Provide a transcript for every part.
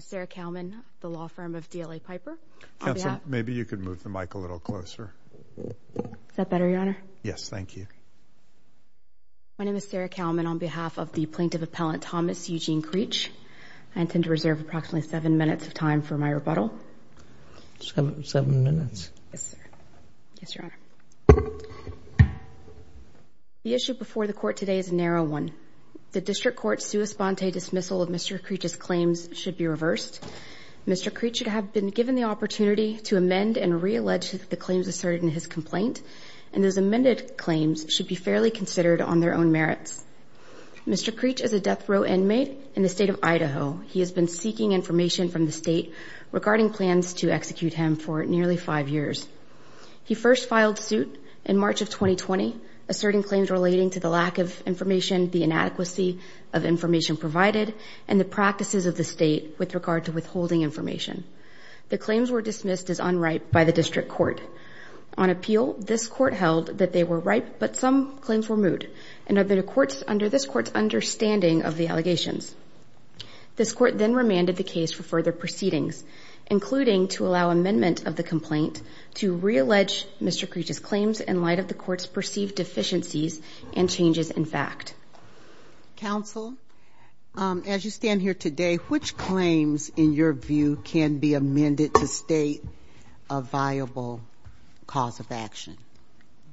Sarah Kalman, D.L.A. Piper, Plaintiff Appellant Thomas Eugene Creech I intend to reserve approximately seven minutes of time for my rebuttal. Seven minutes. Yes, sir. Yes, Your Honor. The issue before the Court today is a narrow one. The District Court's sua sponte dismissal of Mr. Creech's claims should be reversed. Mr. Creech should have been given the opportunity to amend and reallege the claims asserted in his complaint, and those amended claims should be fairly considered on their own merits. Mr. Creech is a death row inmate in the State of Idaho. He has been seeking information from the State regarding plans to execute him for nearly five years. He first filed suit in March of 2020, asserting claims relating to the lack of information, the inadequacy of information provided, and the practices of the State with regard to withholding information. The claims were dismissed as unripe by the District Court. On appeal, this Court held that they were ripe, but some claims were moot, and under this Court's understanding of the allegations. This Court then remanded the case for further proceedings, including to allow amendment of the complaint to reallege Mr. Creech's claims in light of the Court's perceived deficiencies and changes in fact. Counsel, as you stand here today, which claims, in your view, can be amended to state a viable cause of action?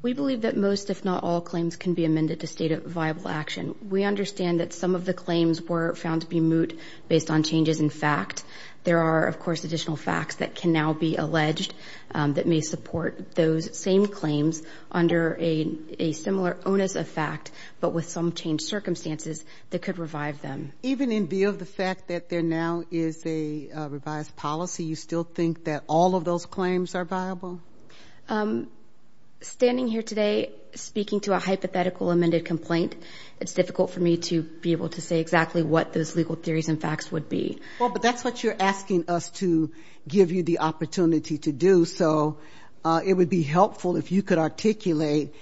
We believe that most, if not all, claims can be amended to state a viable action. We understand that some of the claims were found to be moot based on changes in fact. There are, of course, additional facts that can now be alleged that may support those same claims under a similar onus of fact, but with some changed circumstances that could revive them. Even in view of the fact that there now is a revised policy, you still think that all of those claims are viable? Standing here today, speaking to a hypothetical amended complaint, it's difficult for me to be able to say exactly what those legal theories and facts would be. Well, but that's what you're asking us to give you the opportunity to do, so it would be helpful if you could articulate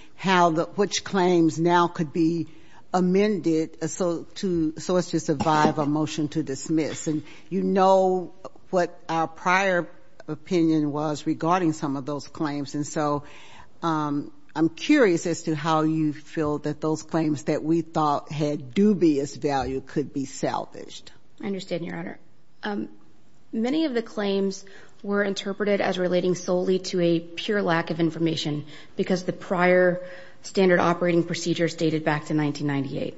which claims now could be amended so as to survive a motion to dismiss. And you know what our prior opinion was regarding some of those claims, and so I'm curious as to how you feel that those claims that we thought had dubious value could be salvaged. I understand, Your Honor. Many of the claims were interpreted as relating solely to a pure lack of information because the prior standard operating procedure stated back to 1998.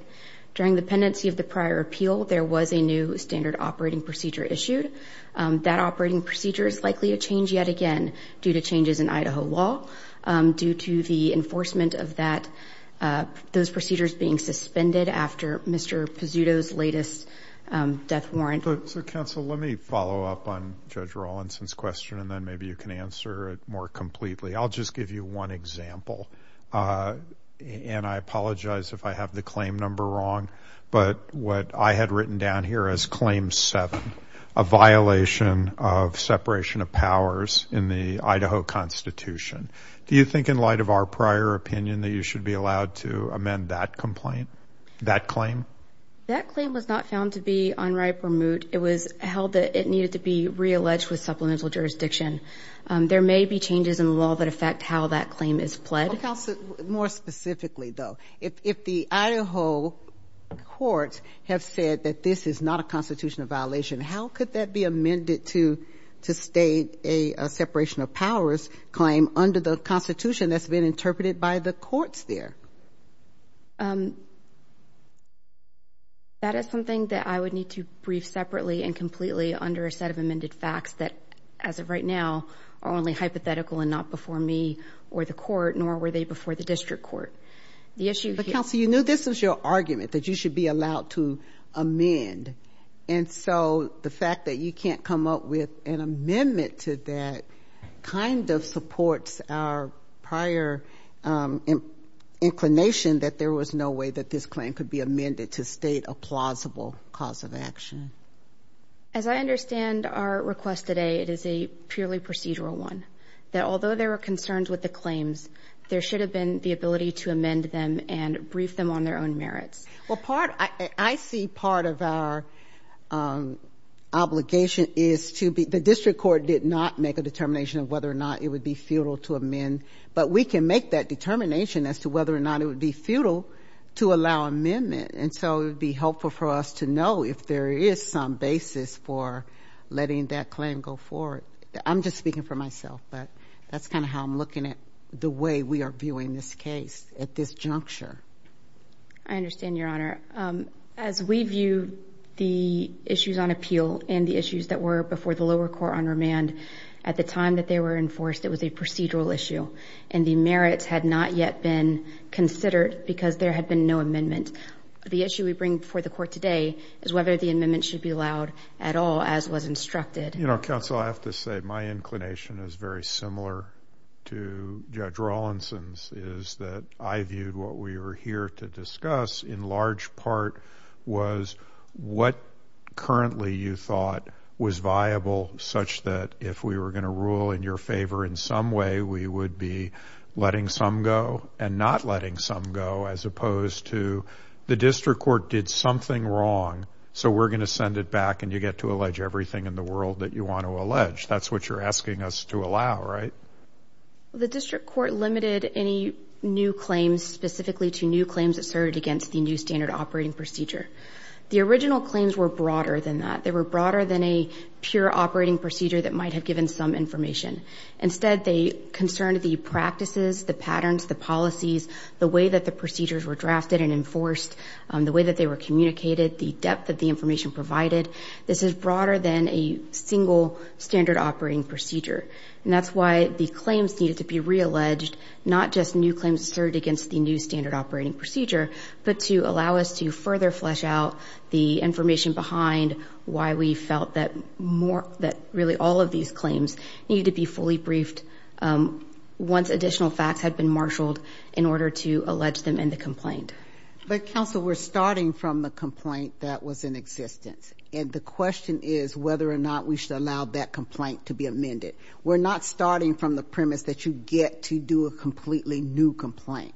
During the pendency of the prior appeal, there was a new standard operating procedure issued. That operating procedure is likely to change yet again due to changes in Idaho law, due to the enforcement of those procedures being suspended after Mr. Pizzuto's latest death warrant. So, counsel, let me follow up on Judge Rawlinson's question, and then maybe you can answer it more completely. I'll just give you one example, and I apologize if I have the claim number wrong, but what I had written down here as Claim 7, a violation of separation of powers in the Idaho Constitution. Do you think in light of our prior opinion that you should be allowed to amend that complaint, that claim? That claim was not found to be unripe or moot. It was held that it needed to be realleged with supplemental jurisdiction. There may be changes in the law that affect how that claim is pled. More specifically, though, if the Idaho courts have said that this is not a constitutional violation, how could that be amended to state a separation of powers claim under the Constitution that's been interpreted by the courts there? That is something that I would need to brief separately and completely under a set of amended facts that, as of right now, are only hypothetical and not before me or the court, nor were they before the district court. But, counsel, you knew this was your argument, that you should be allowed to amend, and so the fact that you can't come up with an amendment to that kind of supports our prior inclination that there was no way that this claim could be amended to state a plausible cause of action. As I understand our request today, it is a purely procedural one, that although there were concerns with the claims, there should have been the ability to amend them and brief them on their own merits. Well, part, I see part of our obligation is to be, the district court did not make a determination of whether or not it would be futile to amend, but we can make that determination as to whether or not it would be futile to allow amendment. And so it would be helpful for us to know if there is some basis for letting that claim go forward. I'm just speaking for myself, but that's kind of how I'm looking at the way we are viewing this case at this juncture. I understand, Your Honor. As we view the issues on appeal and the issues that were before the lower court on remand, at the time that they were enforced, it was a procedural issue, and the merits had not yet been considered because there had been no amendment. The issue we bring before the court today is whether the amendment should be allowed at all, as was instructed. You know, counsel, I have to say my inclination is very similar to Judge Rawlinson's, is that I viewed what we were here to discuss in large part was what currently you thought was viable, such that if we were going to rule in your favor in some way, we would be letting some go and not letting some go, as opposed to the district court did something wrong, so we're going to send it back, and you get to allege everything in the world that you want to allege. That's what you're asking us to allow, right? The district court limited any new claims specifically to new claims asserted against the new standard operating procedure. The original claims were broader than that. They were broader than a pure operating procedure that might have given some information. Instead, they concerned the practices, the patterns, the policies, the way that the procedures were drafted and enforced, the way that they were communicated, the depth that the information provided. This is broader than a single standard operating procedure, and that's why the claims needed to be realleged, not just new claims asserted against the new standard operating procedure, but to allow us to further flesh out the information behind why we felt that really all of these claims needed to be fully briefed once additional facts had been marshaled in order to allege them in the complaint. But, counsel, we're starting from the complaint that was in existence, and the question is whether or not we should allow that complaint to be amended. We're not starting from the premise that you get to do a completely new complaint.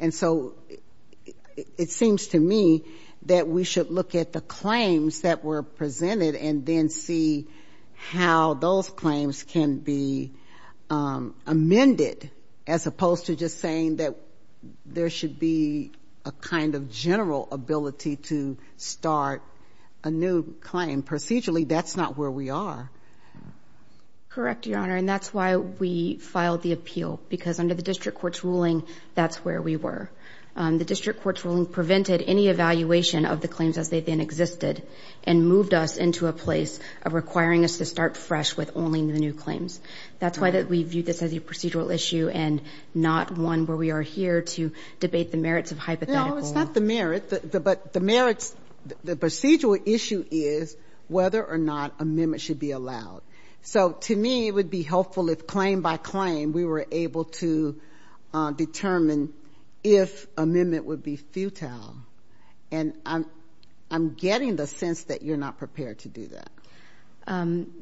And so it seems to me that we should look at the claims that were presented and then see how those claims can be amended, as opposed to just saying that there should be a kind of general ability to start a new claim. Procedurally, that's not where we are. Correct, Your Honor, and that's why we filed the appeal, because under the district court's ruling, that's where we were. The district court's ruling prevented any evaluation of the claims as they then existed and moved us into a place of requiring us to start fresh with only the new claims. That's why we viewed this as a procedural issue and not one where we are here to debate the merits of hypotheticals. No, it's not the merit, but the merits, the procedural issue is whether or not amendments should be allowed. So, to me, it would be helpful if claim by claim we were able to determine if amendment would be futile. And I'm getting the sense that you're not prepared to do that. I'm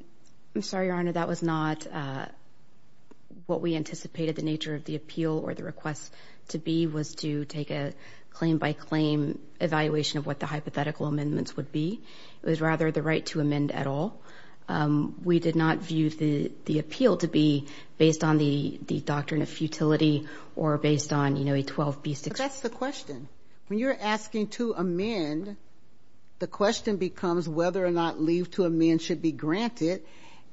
sorry, Your Honor, that was not what we anticipated the nature of the appeal or the request to be, was to take a claim by claim evaluation of what the hypothetical amendments would be. It was rather the right to amend at all. We did not view the appeal to be based on the doctrine of futility or based on, you know, a 12B6. But that's the question. When you're asking to amend, the question becomes whether or not leave to amend should be granted.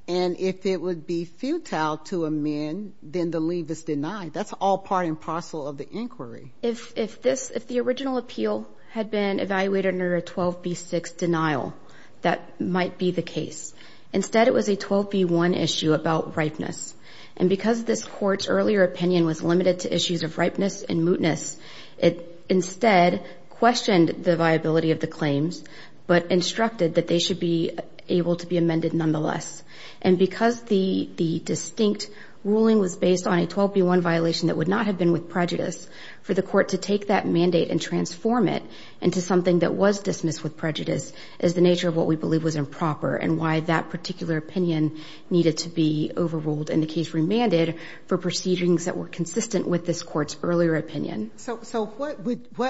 And if it would be futile to amend, then the leave is denied. That's all part and parcel of the inquiry. If the original appeal had been evaluated under a 12B6 denial, that might be the case. Instead, it was a 12B1 issue about ripeness. And because this Court's earlier opinion was limited to issues of ripeness and mootness, it instead questioned the viability of the claims but instructed that they should be able to be amended nonetheless. And because the distinct ruling was based on a 12B1 violation that would not have been with prejudice, for the Court to take that mandate and transform it into something that was dismissed with prejudice is the nature of what we believe was improper and why that particular opinion needed to be overruled and the case remanded for proceedings that were consistent with this Court's earlier opinion. So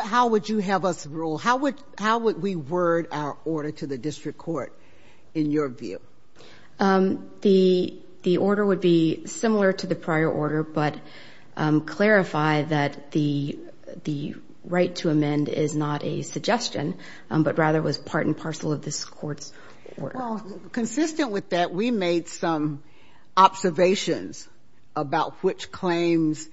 how would you have us rule? How would we word our order to the district court in your view? The order would be similar to the prior order but clarify that the right to amend is not a suggestion but rather was part and parcel of this Court's order. Well, consistent with that, we made some observations about which claims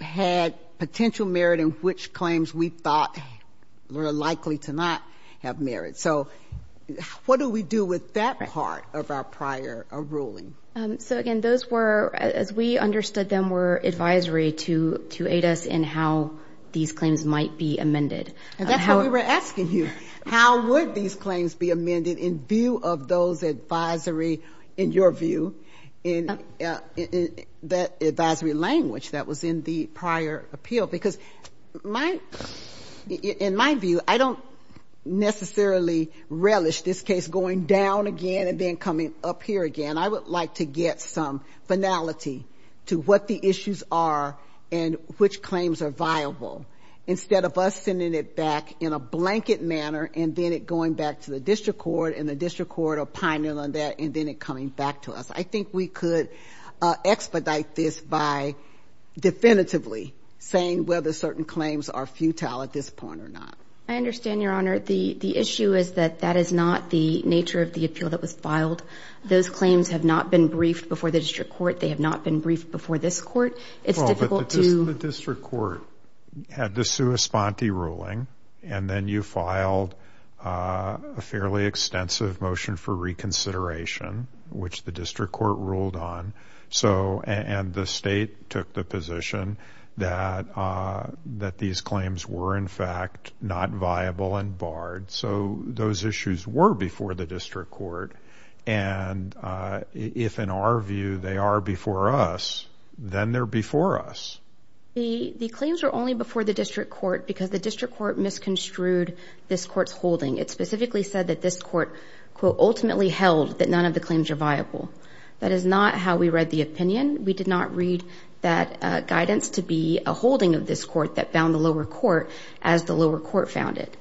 had potential merit and which claims we thought were likely to not have merit. So what do we do with that part of our prior ruling? So, again, those were, as we understood them, were advisory to aid us in how these claims might be amended. And that's what we were asking you. How would these claims be amended in view of those advisory, in your view, that advisory language that was in the prior appeal? Because in my view, I don't necessarily relish this case going down again and then coming up here again. I would like to get some finality to what the issues are and which claims are viable. Instead of us sending it back in a blanket manner and then it going back to the district court and the district court opining on that and then it coming back to us. I think we could expedite this by definitively saying whether certain claims are futile at this point or not. I understand, Your Honor. The issue is that that is not the nature of the appeal that was filed. Those claims have not been briefed before the district court. They have not been briefed before this court. It's difficult to... Well, but the district court had the sua sponte ruling and then you filed a fairly extensive motion for reconsideration, which the district court ruled on. And the state took the position that these claims were, in fact, not viable and barred. So those issues were before the district court. And if, in our view, they are before us, then they're before us. The claims were only before the district court because the district court misconstrued this court's holding. It specifically said that this court, quote, ultimately held that none of the claims are viable. That is not how we read the opinion. We did not read that guidance to be a holding of this court that found the lower court as the lower court found it.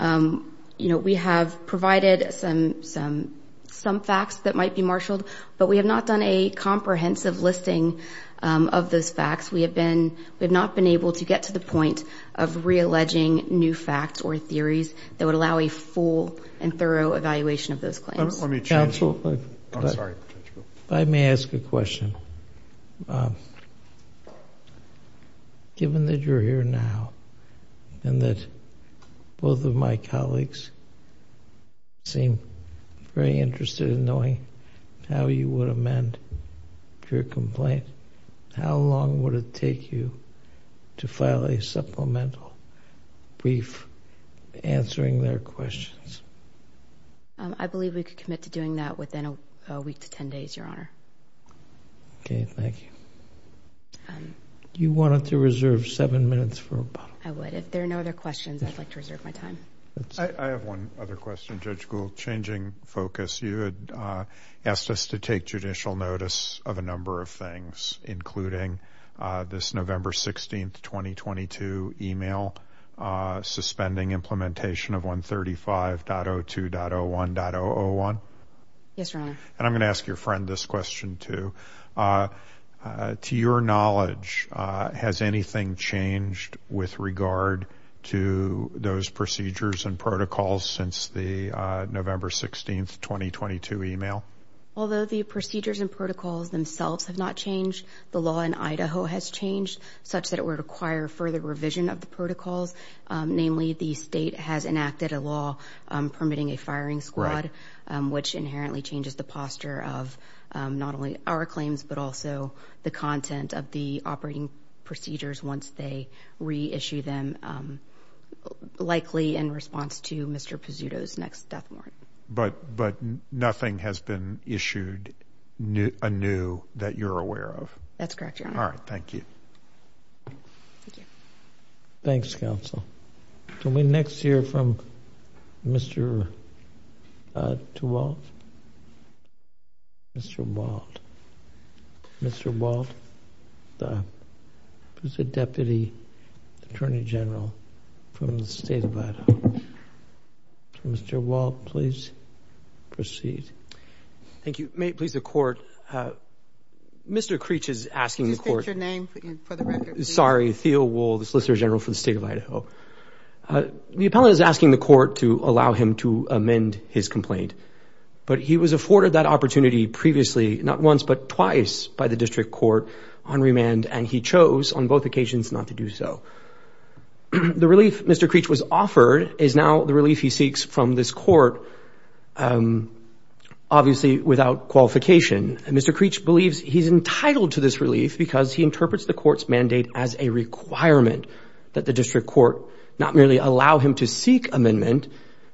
You know, we have provided some facts that might be marshaled, but we have not done a comprehensive listing of those facts. We have not been able to get to the point of realleging new facts or theories that would allow a full and thorough evaluation of those claims. Let me ask a question. Given that you're here now and that both of my colleagues seem very interested in knowing how you would amend your complaint, how long would it take you to file a supplemental brief answering their questions? I believe we could commit to doing that within a week to 10 days, Your Honor. Okay. Thank you. You wanted to reserve seven minutes for a bottle? I would. If there are no other questions, I'd like to reserve my time. I have one other question, Judge Gould. In addition to the judicial changing focus, you had asked us to take judicial notice of a number of things, including this November 16th, 2022 email suspending implementation of 135.02.01.001. Yes, Your Honor. And I'm going to ask your friend this question, too. To your knowledge, has anything changed with regard to those procedures and protocols since the November 16th, 2022 email? Although the procedures and protocols themselves have not changed, the law in Idaho has changed such that it would require further revision of the protocols. Namely, the state has enacted a law permitting a firing squad, which inherently changes the posture of not only our claims, but also the content of the operating procedures once they reissue them, likely in response to Mr. Pezzuto's next death warrant. But nothing has been issued anew that you're aware of? That's correct, Your Honor. All right. Thank you. Thanks, Counsel. Can we next hear from Mr. DeWalt? Mr. DeWalt, the Deputy Attorney General from the State of Idaho. Mr. DeWalt, please proceed. Thank you. May it please the Court, Mr. Creech is asking the Court. Could you state your name for the record, please? Sorry, Theo Wool, the Solicitor General for the State of Idaho. The appellant is asking the Court to allow him to amend his complaint, but he was afforded that opportunity previously, not once but twice, by the District Court on remand, and he chose on both occasions not to do so. The relief Mr. Creech was offered is now the relief he seeks from this Court, obviously without qualification. Mr. Creech believes he's entitled to this relief because he interprets the Court's mandate as a requirement that the District Court not merely allow him to seek amendment,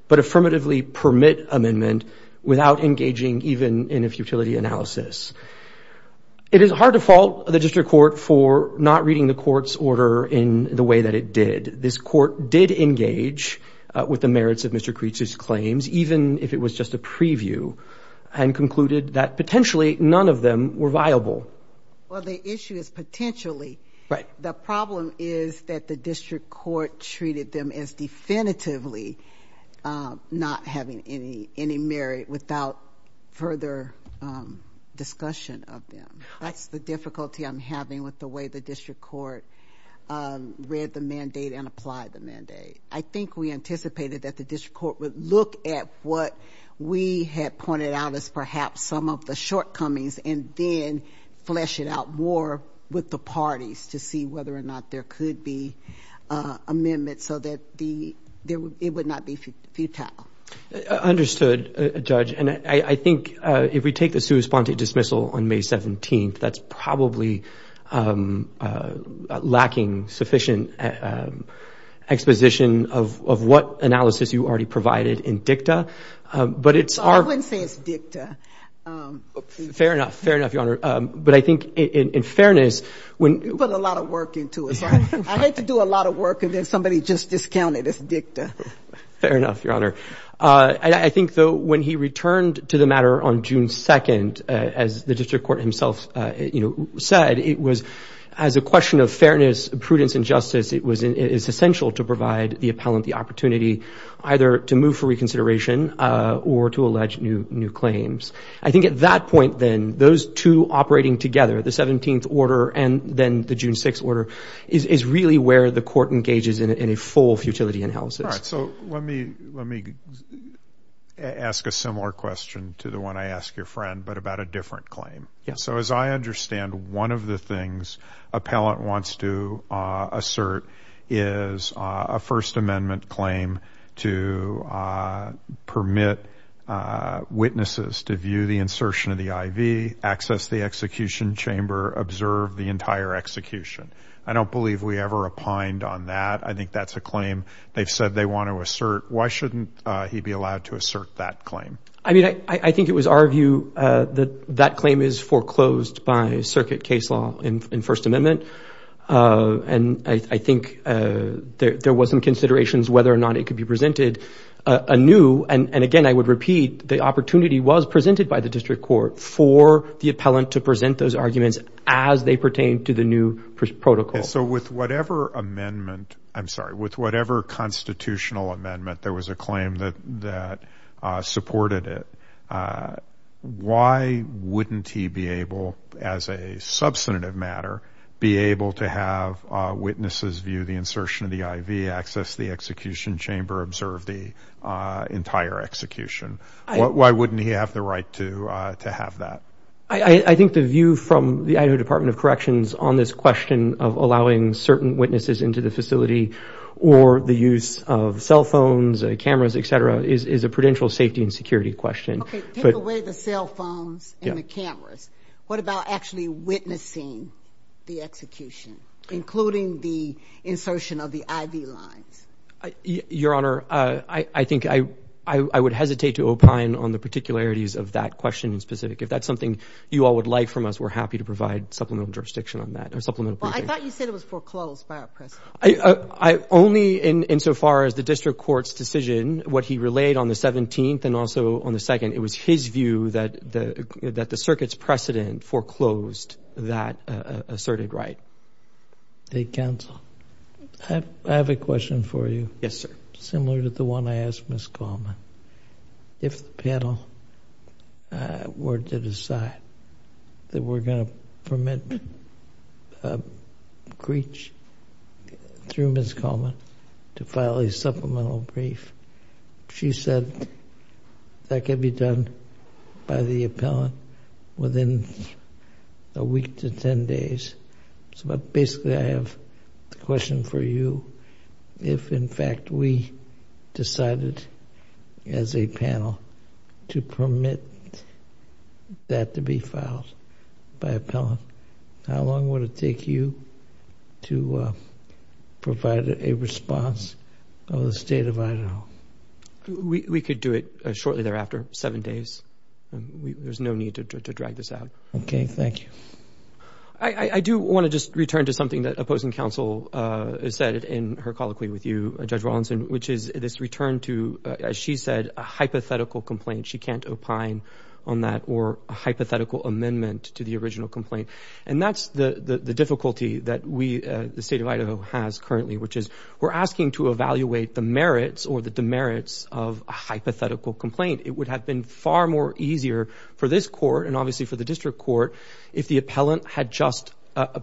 but affirmatively permit amendment without engaging even in a futility analysis. It is hard to fault the District Court for not reading the Court's order in the way that it did. This Court did engage with the merits of Mr. Creech's claims, even if it was just a preview, and concluded that potentially none of them were viable. Well, the issue is potentially. The problem is that the District Court treated them as definitively not having any merit without further discussion of them. That's the difficulty I'm having with the way the District Court read the mandate and applied the mandate. I think we anticipated that the District Court would look at what we had pointed out as perhaps some of the shortcomings and then flesh it out more with the parties to see whether or not there could be amendments so that it would not be futile. Understood, Judge. And I think if we take the sui sponte dismissal on May 17th, that's probably lacking sufficient exposition of what analysis you already provided in dicta. I wouldn't say it's dicta. Fair enough, Your Honor. You put a lot of work into it, so I hate to do a lot of work and then somebody just discounted it's dicta. Fair enough, Your Honor. I think, though, when he returned to the matter on June 2nd, as the District Court himself said, it was, as a question of fairness, prudence and justice, it's essential to provide the appellant the opportunity either to move for reconsideration or to allege new claims. I think at that point, then, those two operating together, the 17th order and then the June 6th order, is really where the Court engages in a full futility analysis. All right. So let me ask a similar question to the one I asked your friend, but about a different claim. So as I understand, one of the things appellant wants to assert is a First Amendment claim to permit witnesses to view the insertion of the I.V., access the execution chamber, observe the entire execution. I don't believe we ever opined on that. I think that's a claim they've said they want to assert. Why shouldn't he be allowed to assert that claim? I mean, I think it was our view that that claim is foreclosed by circuit case law in First Amendment, and I think there was some considerations whether or not it could be presented anew. And again, I would repeat, the opportunity was presented by the district court for the appellant to present those arguments as they pertain to the new protocol. So with whatever constitutional amendment there was a claim that supported it, why wouldn't he be able, as a substantive matter, be able to have witnesses view the insertion of the I.V., access the execution chamber, observe the entire execution? Why wouldn't he have the right to have that? I think the view from the Idaho Department of Corrections on this question of allowing certain witnesses into the facility or the use of cell phones, cameras, et cetera, is a prudential safety and security question. Okay, take away the cell phones and the cameras. What about actually witnessing the execution, including the insertion of the I.V. lines? Your Honor, I think I would hesitate to opine on the particularities of that question in specific. If that's something you all would like from us, we're happy to provide supplemental jurisdiction on that. I thought you said it was foreclosed by our precedent. Only insofar as the district court's decision, what he relayed on the 17th and also on the 2nd, it was his view that the circuit's precedent foreclosed that asserted right. The counsel. I have a question for you. Yes, sir. Similar to the one I asked Ms. Coleman. If the panel were to decide that we're going to permit a breach through Ms. Coleman to file a supplemental brief, she said that could be done by the appellant within a week to 10 days. So basically I have a question for you. If, in fact, we decided as a panel to permit that to be filed by appellant, how long would it take you to provide a response of the State of Idaho? We could do it shortly thereafter, seven days. There's no need to drag this out. Okay, thank you. I do want to just return to something that opposing counsel said in her colloquy with you, Judge Rawlinson, which is this return to, as she said, a hypothetical complaint. She can't opine on that or a hypothetical amendment to the original complaint. And that's the difficulty that the State of Idaho has currently, which is we're asking to evaluate the merits or the demerits of a hypothetical complaint. It would have been far more easier for this court and obviously for the district court if the appellant had just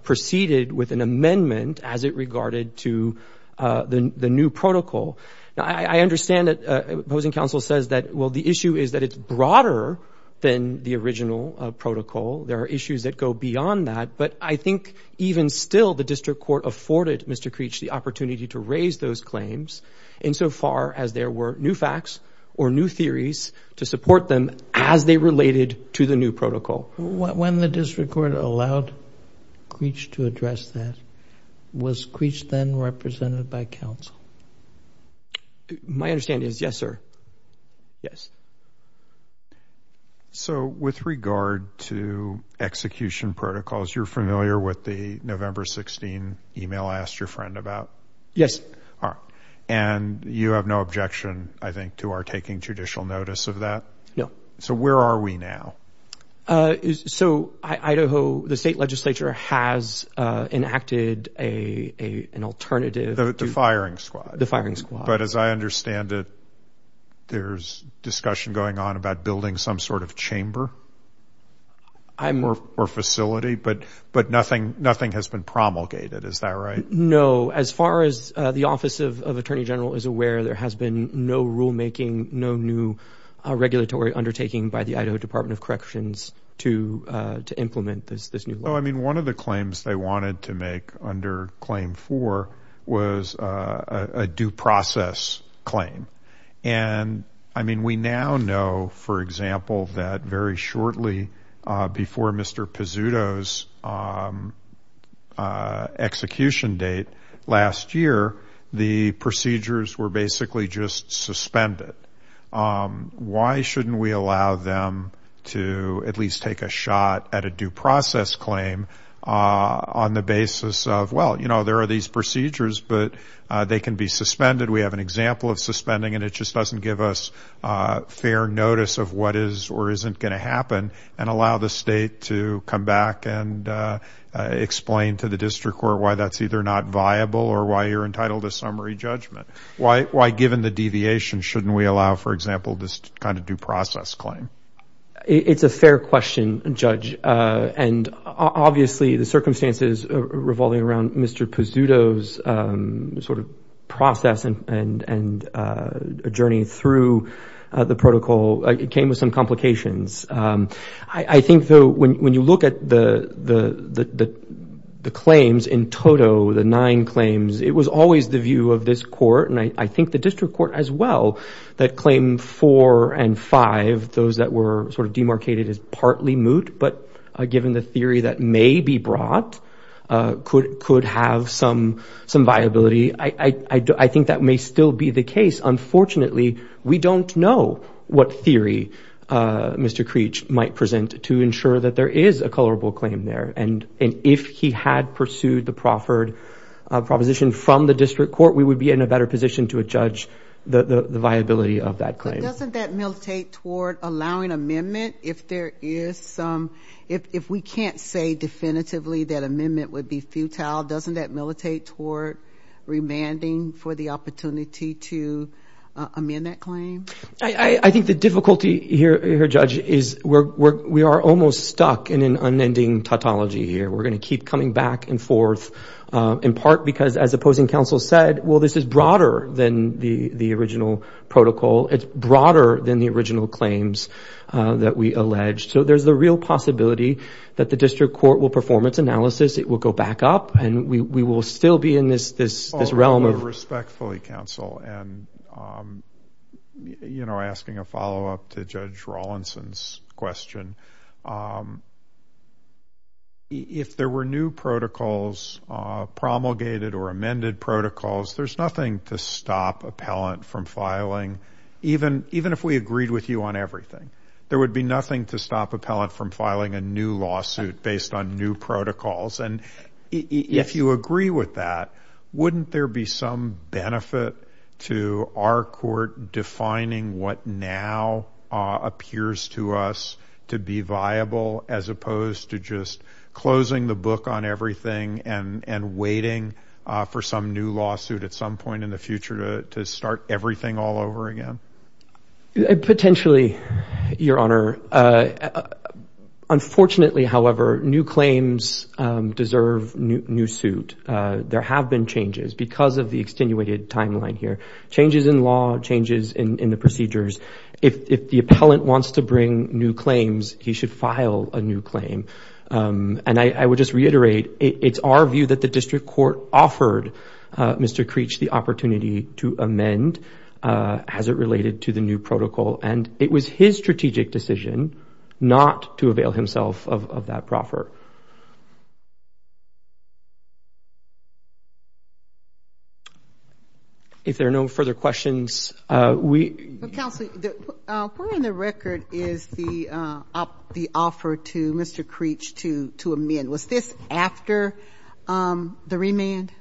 proceeded with an amendment as it regarded to the new protocol. I understand that opposing counsel says that, well, the issue is that it's broader than the original protocol. There are issues that go beyond that. But I think even still the district court afforded Mr. Creech the opportunity to raise those claims insofar as there were new facts or new theories to support them as they related to the new protocol. When the district court allowed Creech to address that, was Creech then represented by counsel? My understanding is yes, sir. Yes. So with regard to execution protocols, you're familiar with the November 16 email I asked your friend about? Yes. And you have no objection, I think, to our taking judicial notice of that? No. So where are we now? So Idaho, the state legislature has enacted an alternative. The firing squad. The firing squad. But as I understand it, there's discussion going on about building some sort of chamber or facility, but nothing has been promulgated. Is that right? No. As far as the Office of Attorney General is aware, there has been no rulemaking, no new regulatory undertaking by the Idaho Department of Corrections to implement this new law. Oh, I mean, one of the claims they wanted to make under Claim 4 was a due process claim. And, I mean, we now know, for example, that very shortly before Mr. Pizzuto's execution, date last year, the procedures were basically just suspended. Why shouldn't we allow them to at least take a shot at a due process claim on the basis of, well, you know, there are these procedures, but they can be suspended. We have an example of suspending, and it just doesn't give us fair notice of what is or isn't going to happen and allow the state to come back and explain to the district court why that's either not viable or why you're entitled to summary judgment. Why, given the deviation, shouldn't we allow, for example, this kind of due process claim? It's a fair question, Judge. And, obviously, the circumstances revolving around Mr. Pizzuto's sort of process and journey through the protocol came with some complications. I think, though, when you look at the claims in total, the nine claims, it was always the view of this court, and I think the district court as well, that Claim 4 and 5, those that were sort of demarcated as partly moot, but given the theory that may be brought, could have some viability. I think that may still be the case. I don't know what Mr. Creech might present to ensure that there is a colorable claim there, and if he had pursued the proffered proposition from the district court, we would be in a better position to judge the viability of that claim. But doesn't that militate toward allowing amendment if there is some, if we can't say definitively that amendment would be futile? Doesn't that militate toward remanding for the opportunity to amend that claim? I think the difficulty here, Judge, is we are almost stuck in an unending tautology here. We're going to keep coming back and forth, in part because, as opposing counsel said, well, this is broader than the original protocol. It's broader than the original claims that we alleged. So there's the real possibility that the district court will perform its analysis, it will go back up, and we will still be in this realm of... Respectfully, counsel, and asking a follow-up to Judge Rawlinson's question, if there were new protocols, promulgated or amended protocols, there's nothing to stop appellant from filing, even if we agreed with you on everything. There would be nothing to stop appellant from filing a new lawsuit based on new protocols. And if you agree with that, wouldn't there be some benefit to our court defining what now appears to us to be viable, as opposed to just closing the book on everything and waiting for some new lawsuit at some point in the future to start everything all over again? Potentially, Your Honor. Unfortunately, however, new claims deserve new suit. There have been changes because of the extenuated timeline here. Changes in law, changes in the procedures. If the appellant wants to bring new claims, he should file a new claim. And I would just reiterate, it's our view that the district court offered Mr. Creech the opportunity to amend as it related to the new protocol, and it was his strategic decision not to avail himself of that proffer. If there are no further questions, we... Counsel, where in the record is the offer to Mr. Creech to amend? Was this after the remand?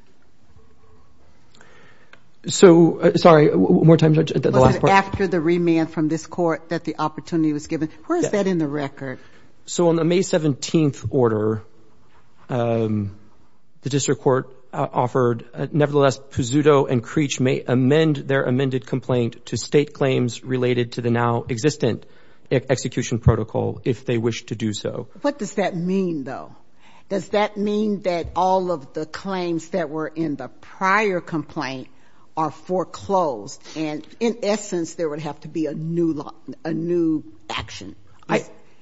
So, sorry, one more time, Judge. Was it after the remand from this court that the opportunity was given? Where is that in the record? So on the May 17th order, the district court offered, nevertheless, Pizzuto and Creech may amend their amended complaint to state claims related to the now-existent execution protocol if they wish to do so. What does that mean, though? Does that mean that all of the claims that were in the prior complaint are foreclosed, and in essence, there would have to be a new action?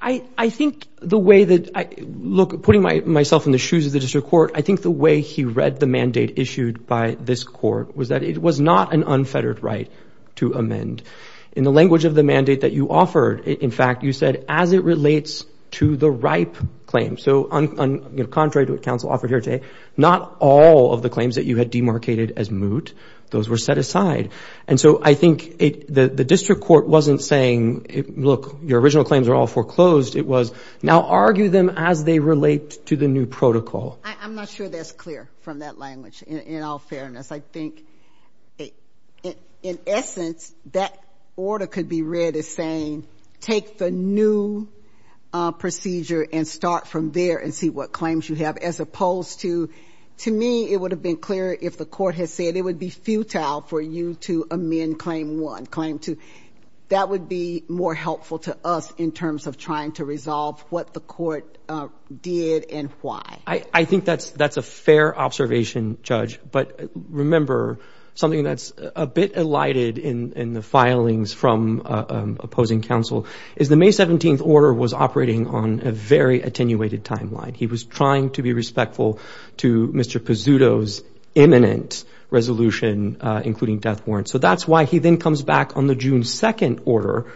I think the way that, look, putting myself in the shoes of the district court, I think the way he read the mandate issued by this court was that it was not an unfettered right to amend. In the language of the mandate that you offered, in fact, you said, as it relates to the ripe claim. So contrary to what counsel offered here today, not all of the claims that you had demarcated as moot, those were set aside. And so I think the district court wasn't saying, look, your original claims are all foreclosed. Now argue them as they relate to the new protocol. I'm not sure that's clear from that language, in all fairness. I think, in essence, that order could be read as saying, take the new procedure and start from there and see what claims you have, as opposed to, to me, it would have been clearer if the court had said it would be futile for you to amend claim one, claim two. That would be more helpful to us in terms of trying to resolve what the court did and why. I think that's a fair observation, Judge. But remember, something that's a bit elided in the filings from opposing counsel is the May 17th order was operating on a very attenuated timeline. He was trying to be respectful to Mr. Pizzuto's imminent resolution, including death warrant. So that's why he then comes back on the June 2nd order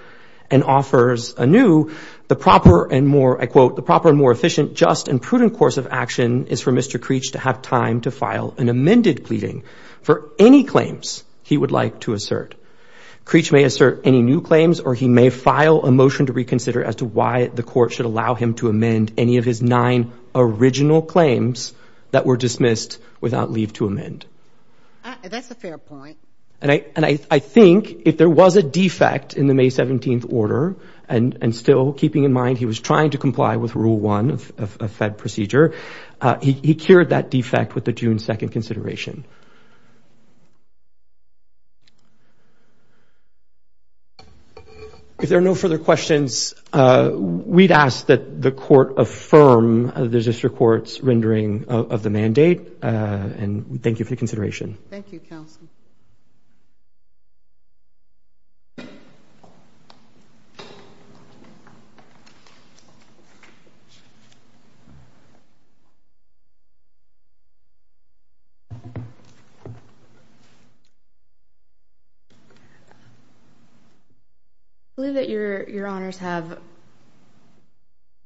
and offers a new, the proper and more, I quote, the proper and more efficient, just and prudent course of action is for Mr. Creech to have time to file an amended pleading for any claims he would like to assert. Creech may assert any new claims or he may file a motion to reconsider as to why the court should allow him to amend any of his nine original claims that were dismissed without leave to amend. That's a fair point. And I think if there was a defect in the May 17th order, and still keeping in mind he was trying to comply with rule one of Fed procedure, he cured that defect with the June 2nd consideration. If there are no further questions, we'd ask that the court affirm the district court's rendering of the mandate. And thank you for the consideration. I believe that your, your honors have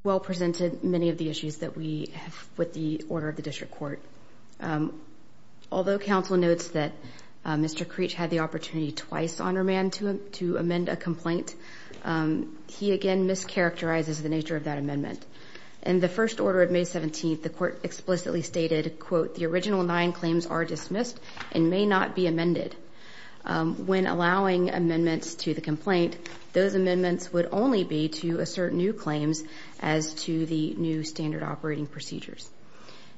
well presented many of the issues that we have with the order of the district court. Although counsel notes that Mr. Creech had the opportunity twice on remand to amend a complaint, he again mischaracterizes the nature of that amendment. In the first order of May 17th, the court explicitly stated, quote, the original nine claims are dismissed and may not be amended. When allowing amendments to the complaint, those amendments would only be to assert new claims as to the new standard operating procedures.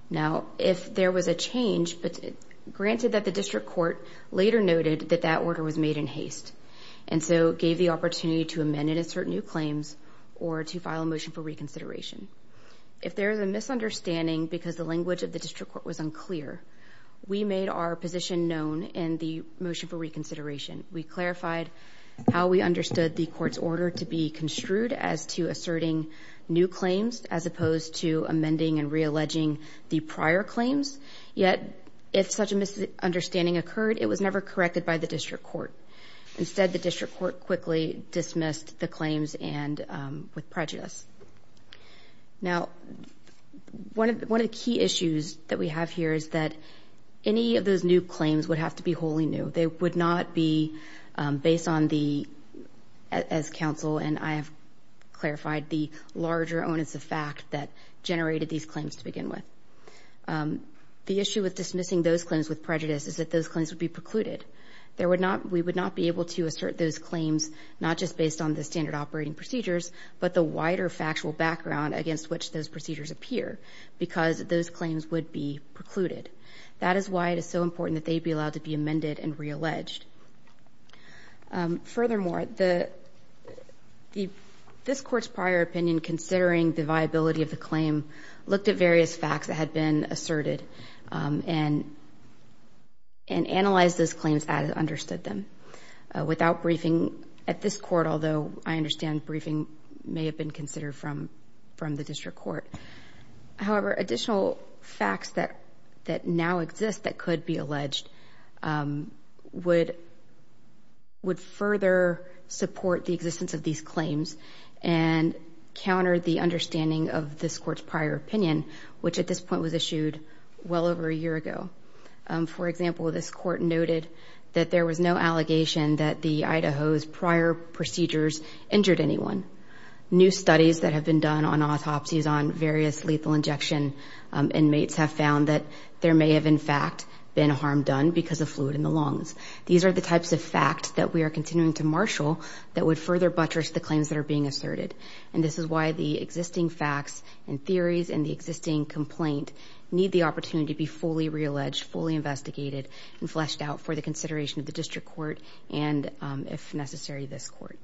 Now, if there was a change, granted that the district court later noted that that order was made in haste, and so gave the opportunity to amend and assert new claims, or to file a motion for reconsideration. If there is a misunderstanding because the language of the district court was unclear, we made our position known in the motion for reconsideration. We clarified how we understood the court's order to be construed as to asserting new claims, as opposed to amending and reelecting those claims. We also clarified that the district court was not correct in alleging the prior claims, yet if such a misunderstanding occurred, it was never corrected by the district court. Instead, the district court quickly dismissed the claims with prejudice. Now, one of the key issues that we have here is that any of those new claims would have to be wholly new. They would not be based on the, as counsel and I have clarified, the larger onus of fact that generated these claims to begin with. The issue with dismissing those claims with prejudice is that those claims would be precluded. We would not be able to assert those claims, not just based on the standard operating procedures, but the wider factual background against which those procedures appear, because those claims would be precluded. That is why it is so important that they be allowed to be amended and realleged. Furthermore, this court's prior opinion, considering the viability of the claim, looked at various factors. It looked at the facts that had been asserted and analyzed those claims as it understood them. Without briefing, at this court, although I understand briefing may have been considered from the district court. However, additional facts that now exist that could be alleged would further support the existence of these claims and counter the understanding of this court's prior opinion, which at this point was issued well over a year ago. For example, this court noted that there was no allegation that the Idaho's prior procedures injured anyone. New studies that have been done on autopsies on various lethal injection inmates have found that there may have, in fact, been harm done because of fluid in the lungs. These are the types of facts that we are continuing to marshal that would further buttress the claims that are being asserted. This is why the existing facts and theories and the existing complaint need the opportunity to be fully realleged, fully investigated, and fleshed out for the consideration of the district court and, if necessary, this court.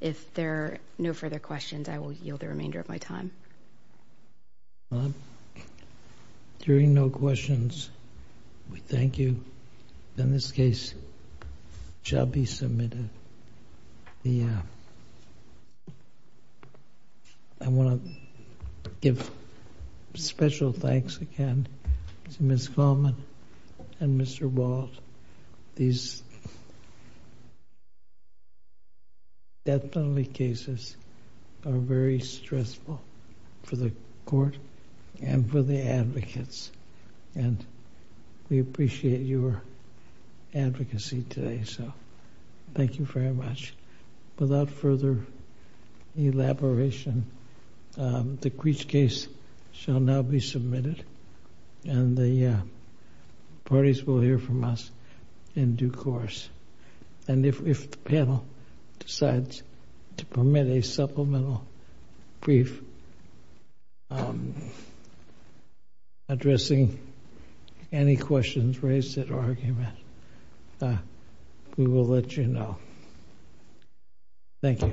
If there are no further questions, I will yield the remainder of my time. If there are no questions, we thank you. Then this case shall be submitted. I want to give special thanks again to Ms. Coleman and Mr. Wald. These death penalty cases are very stressful for the court and for the advocates. And we appreciate your advocacy today. Thank you very much. Without further elaboration, the Creech case shall now be submitted and the parties will hear from us in due course. And if the panel decides to permit a supplemental brief, address the panel. If you are noticing any questions raised at argument, we will let you know. Thank you. Thank you.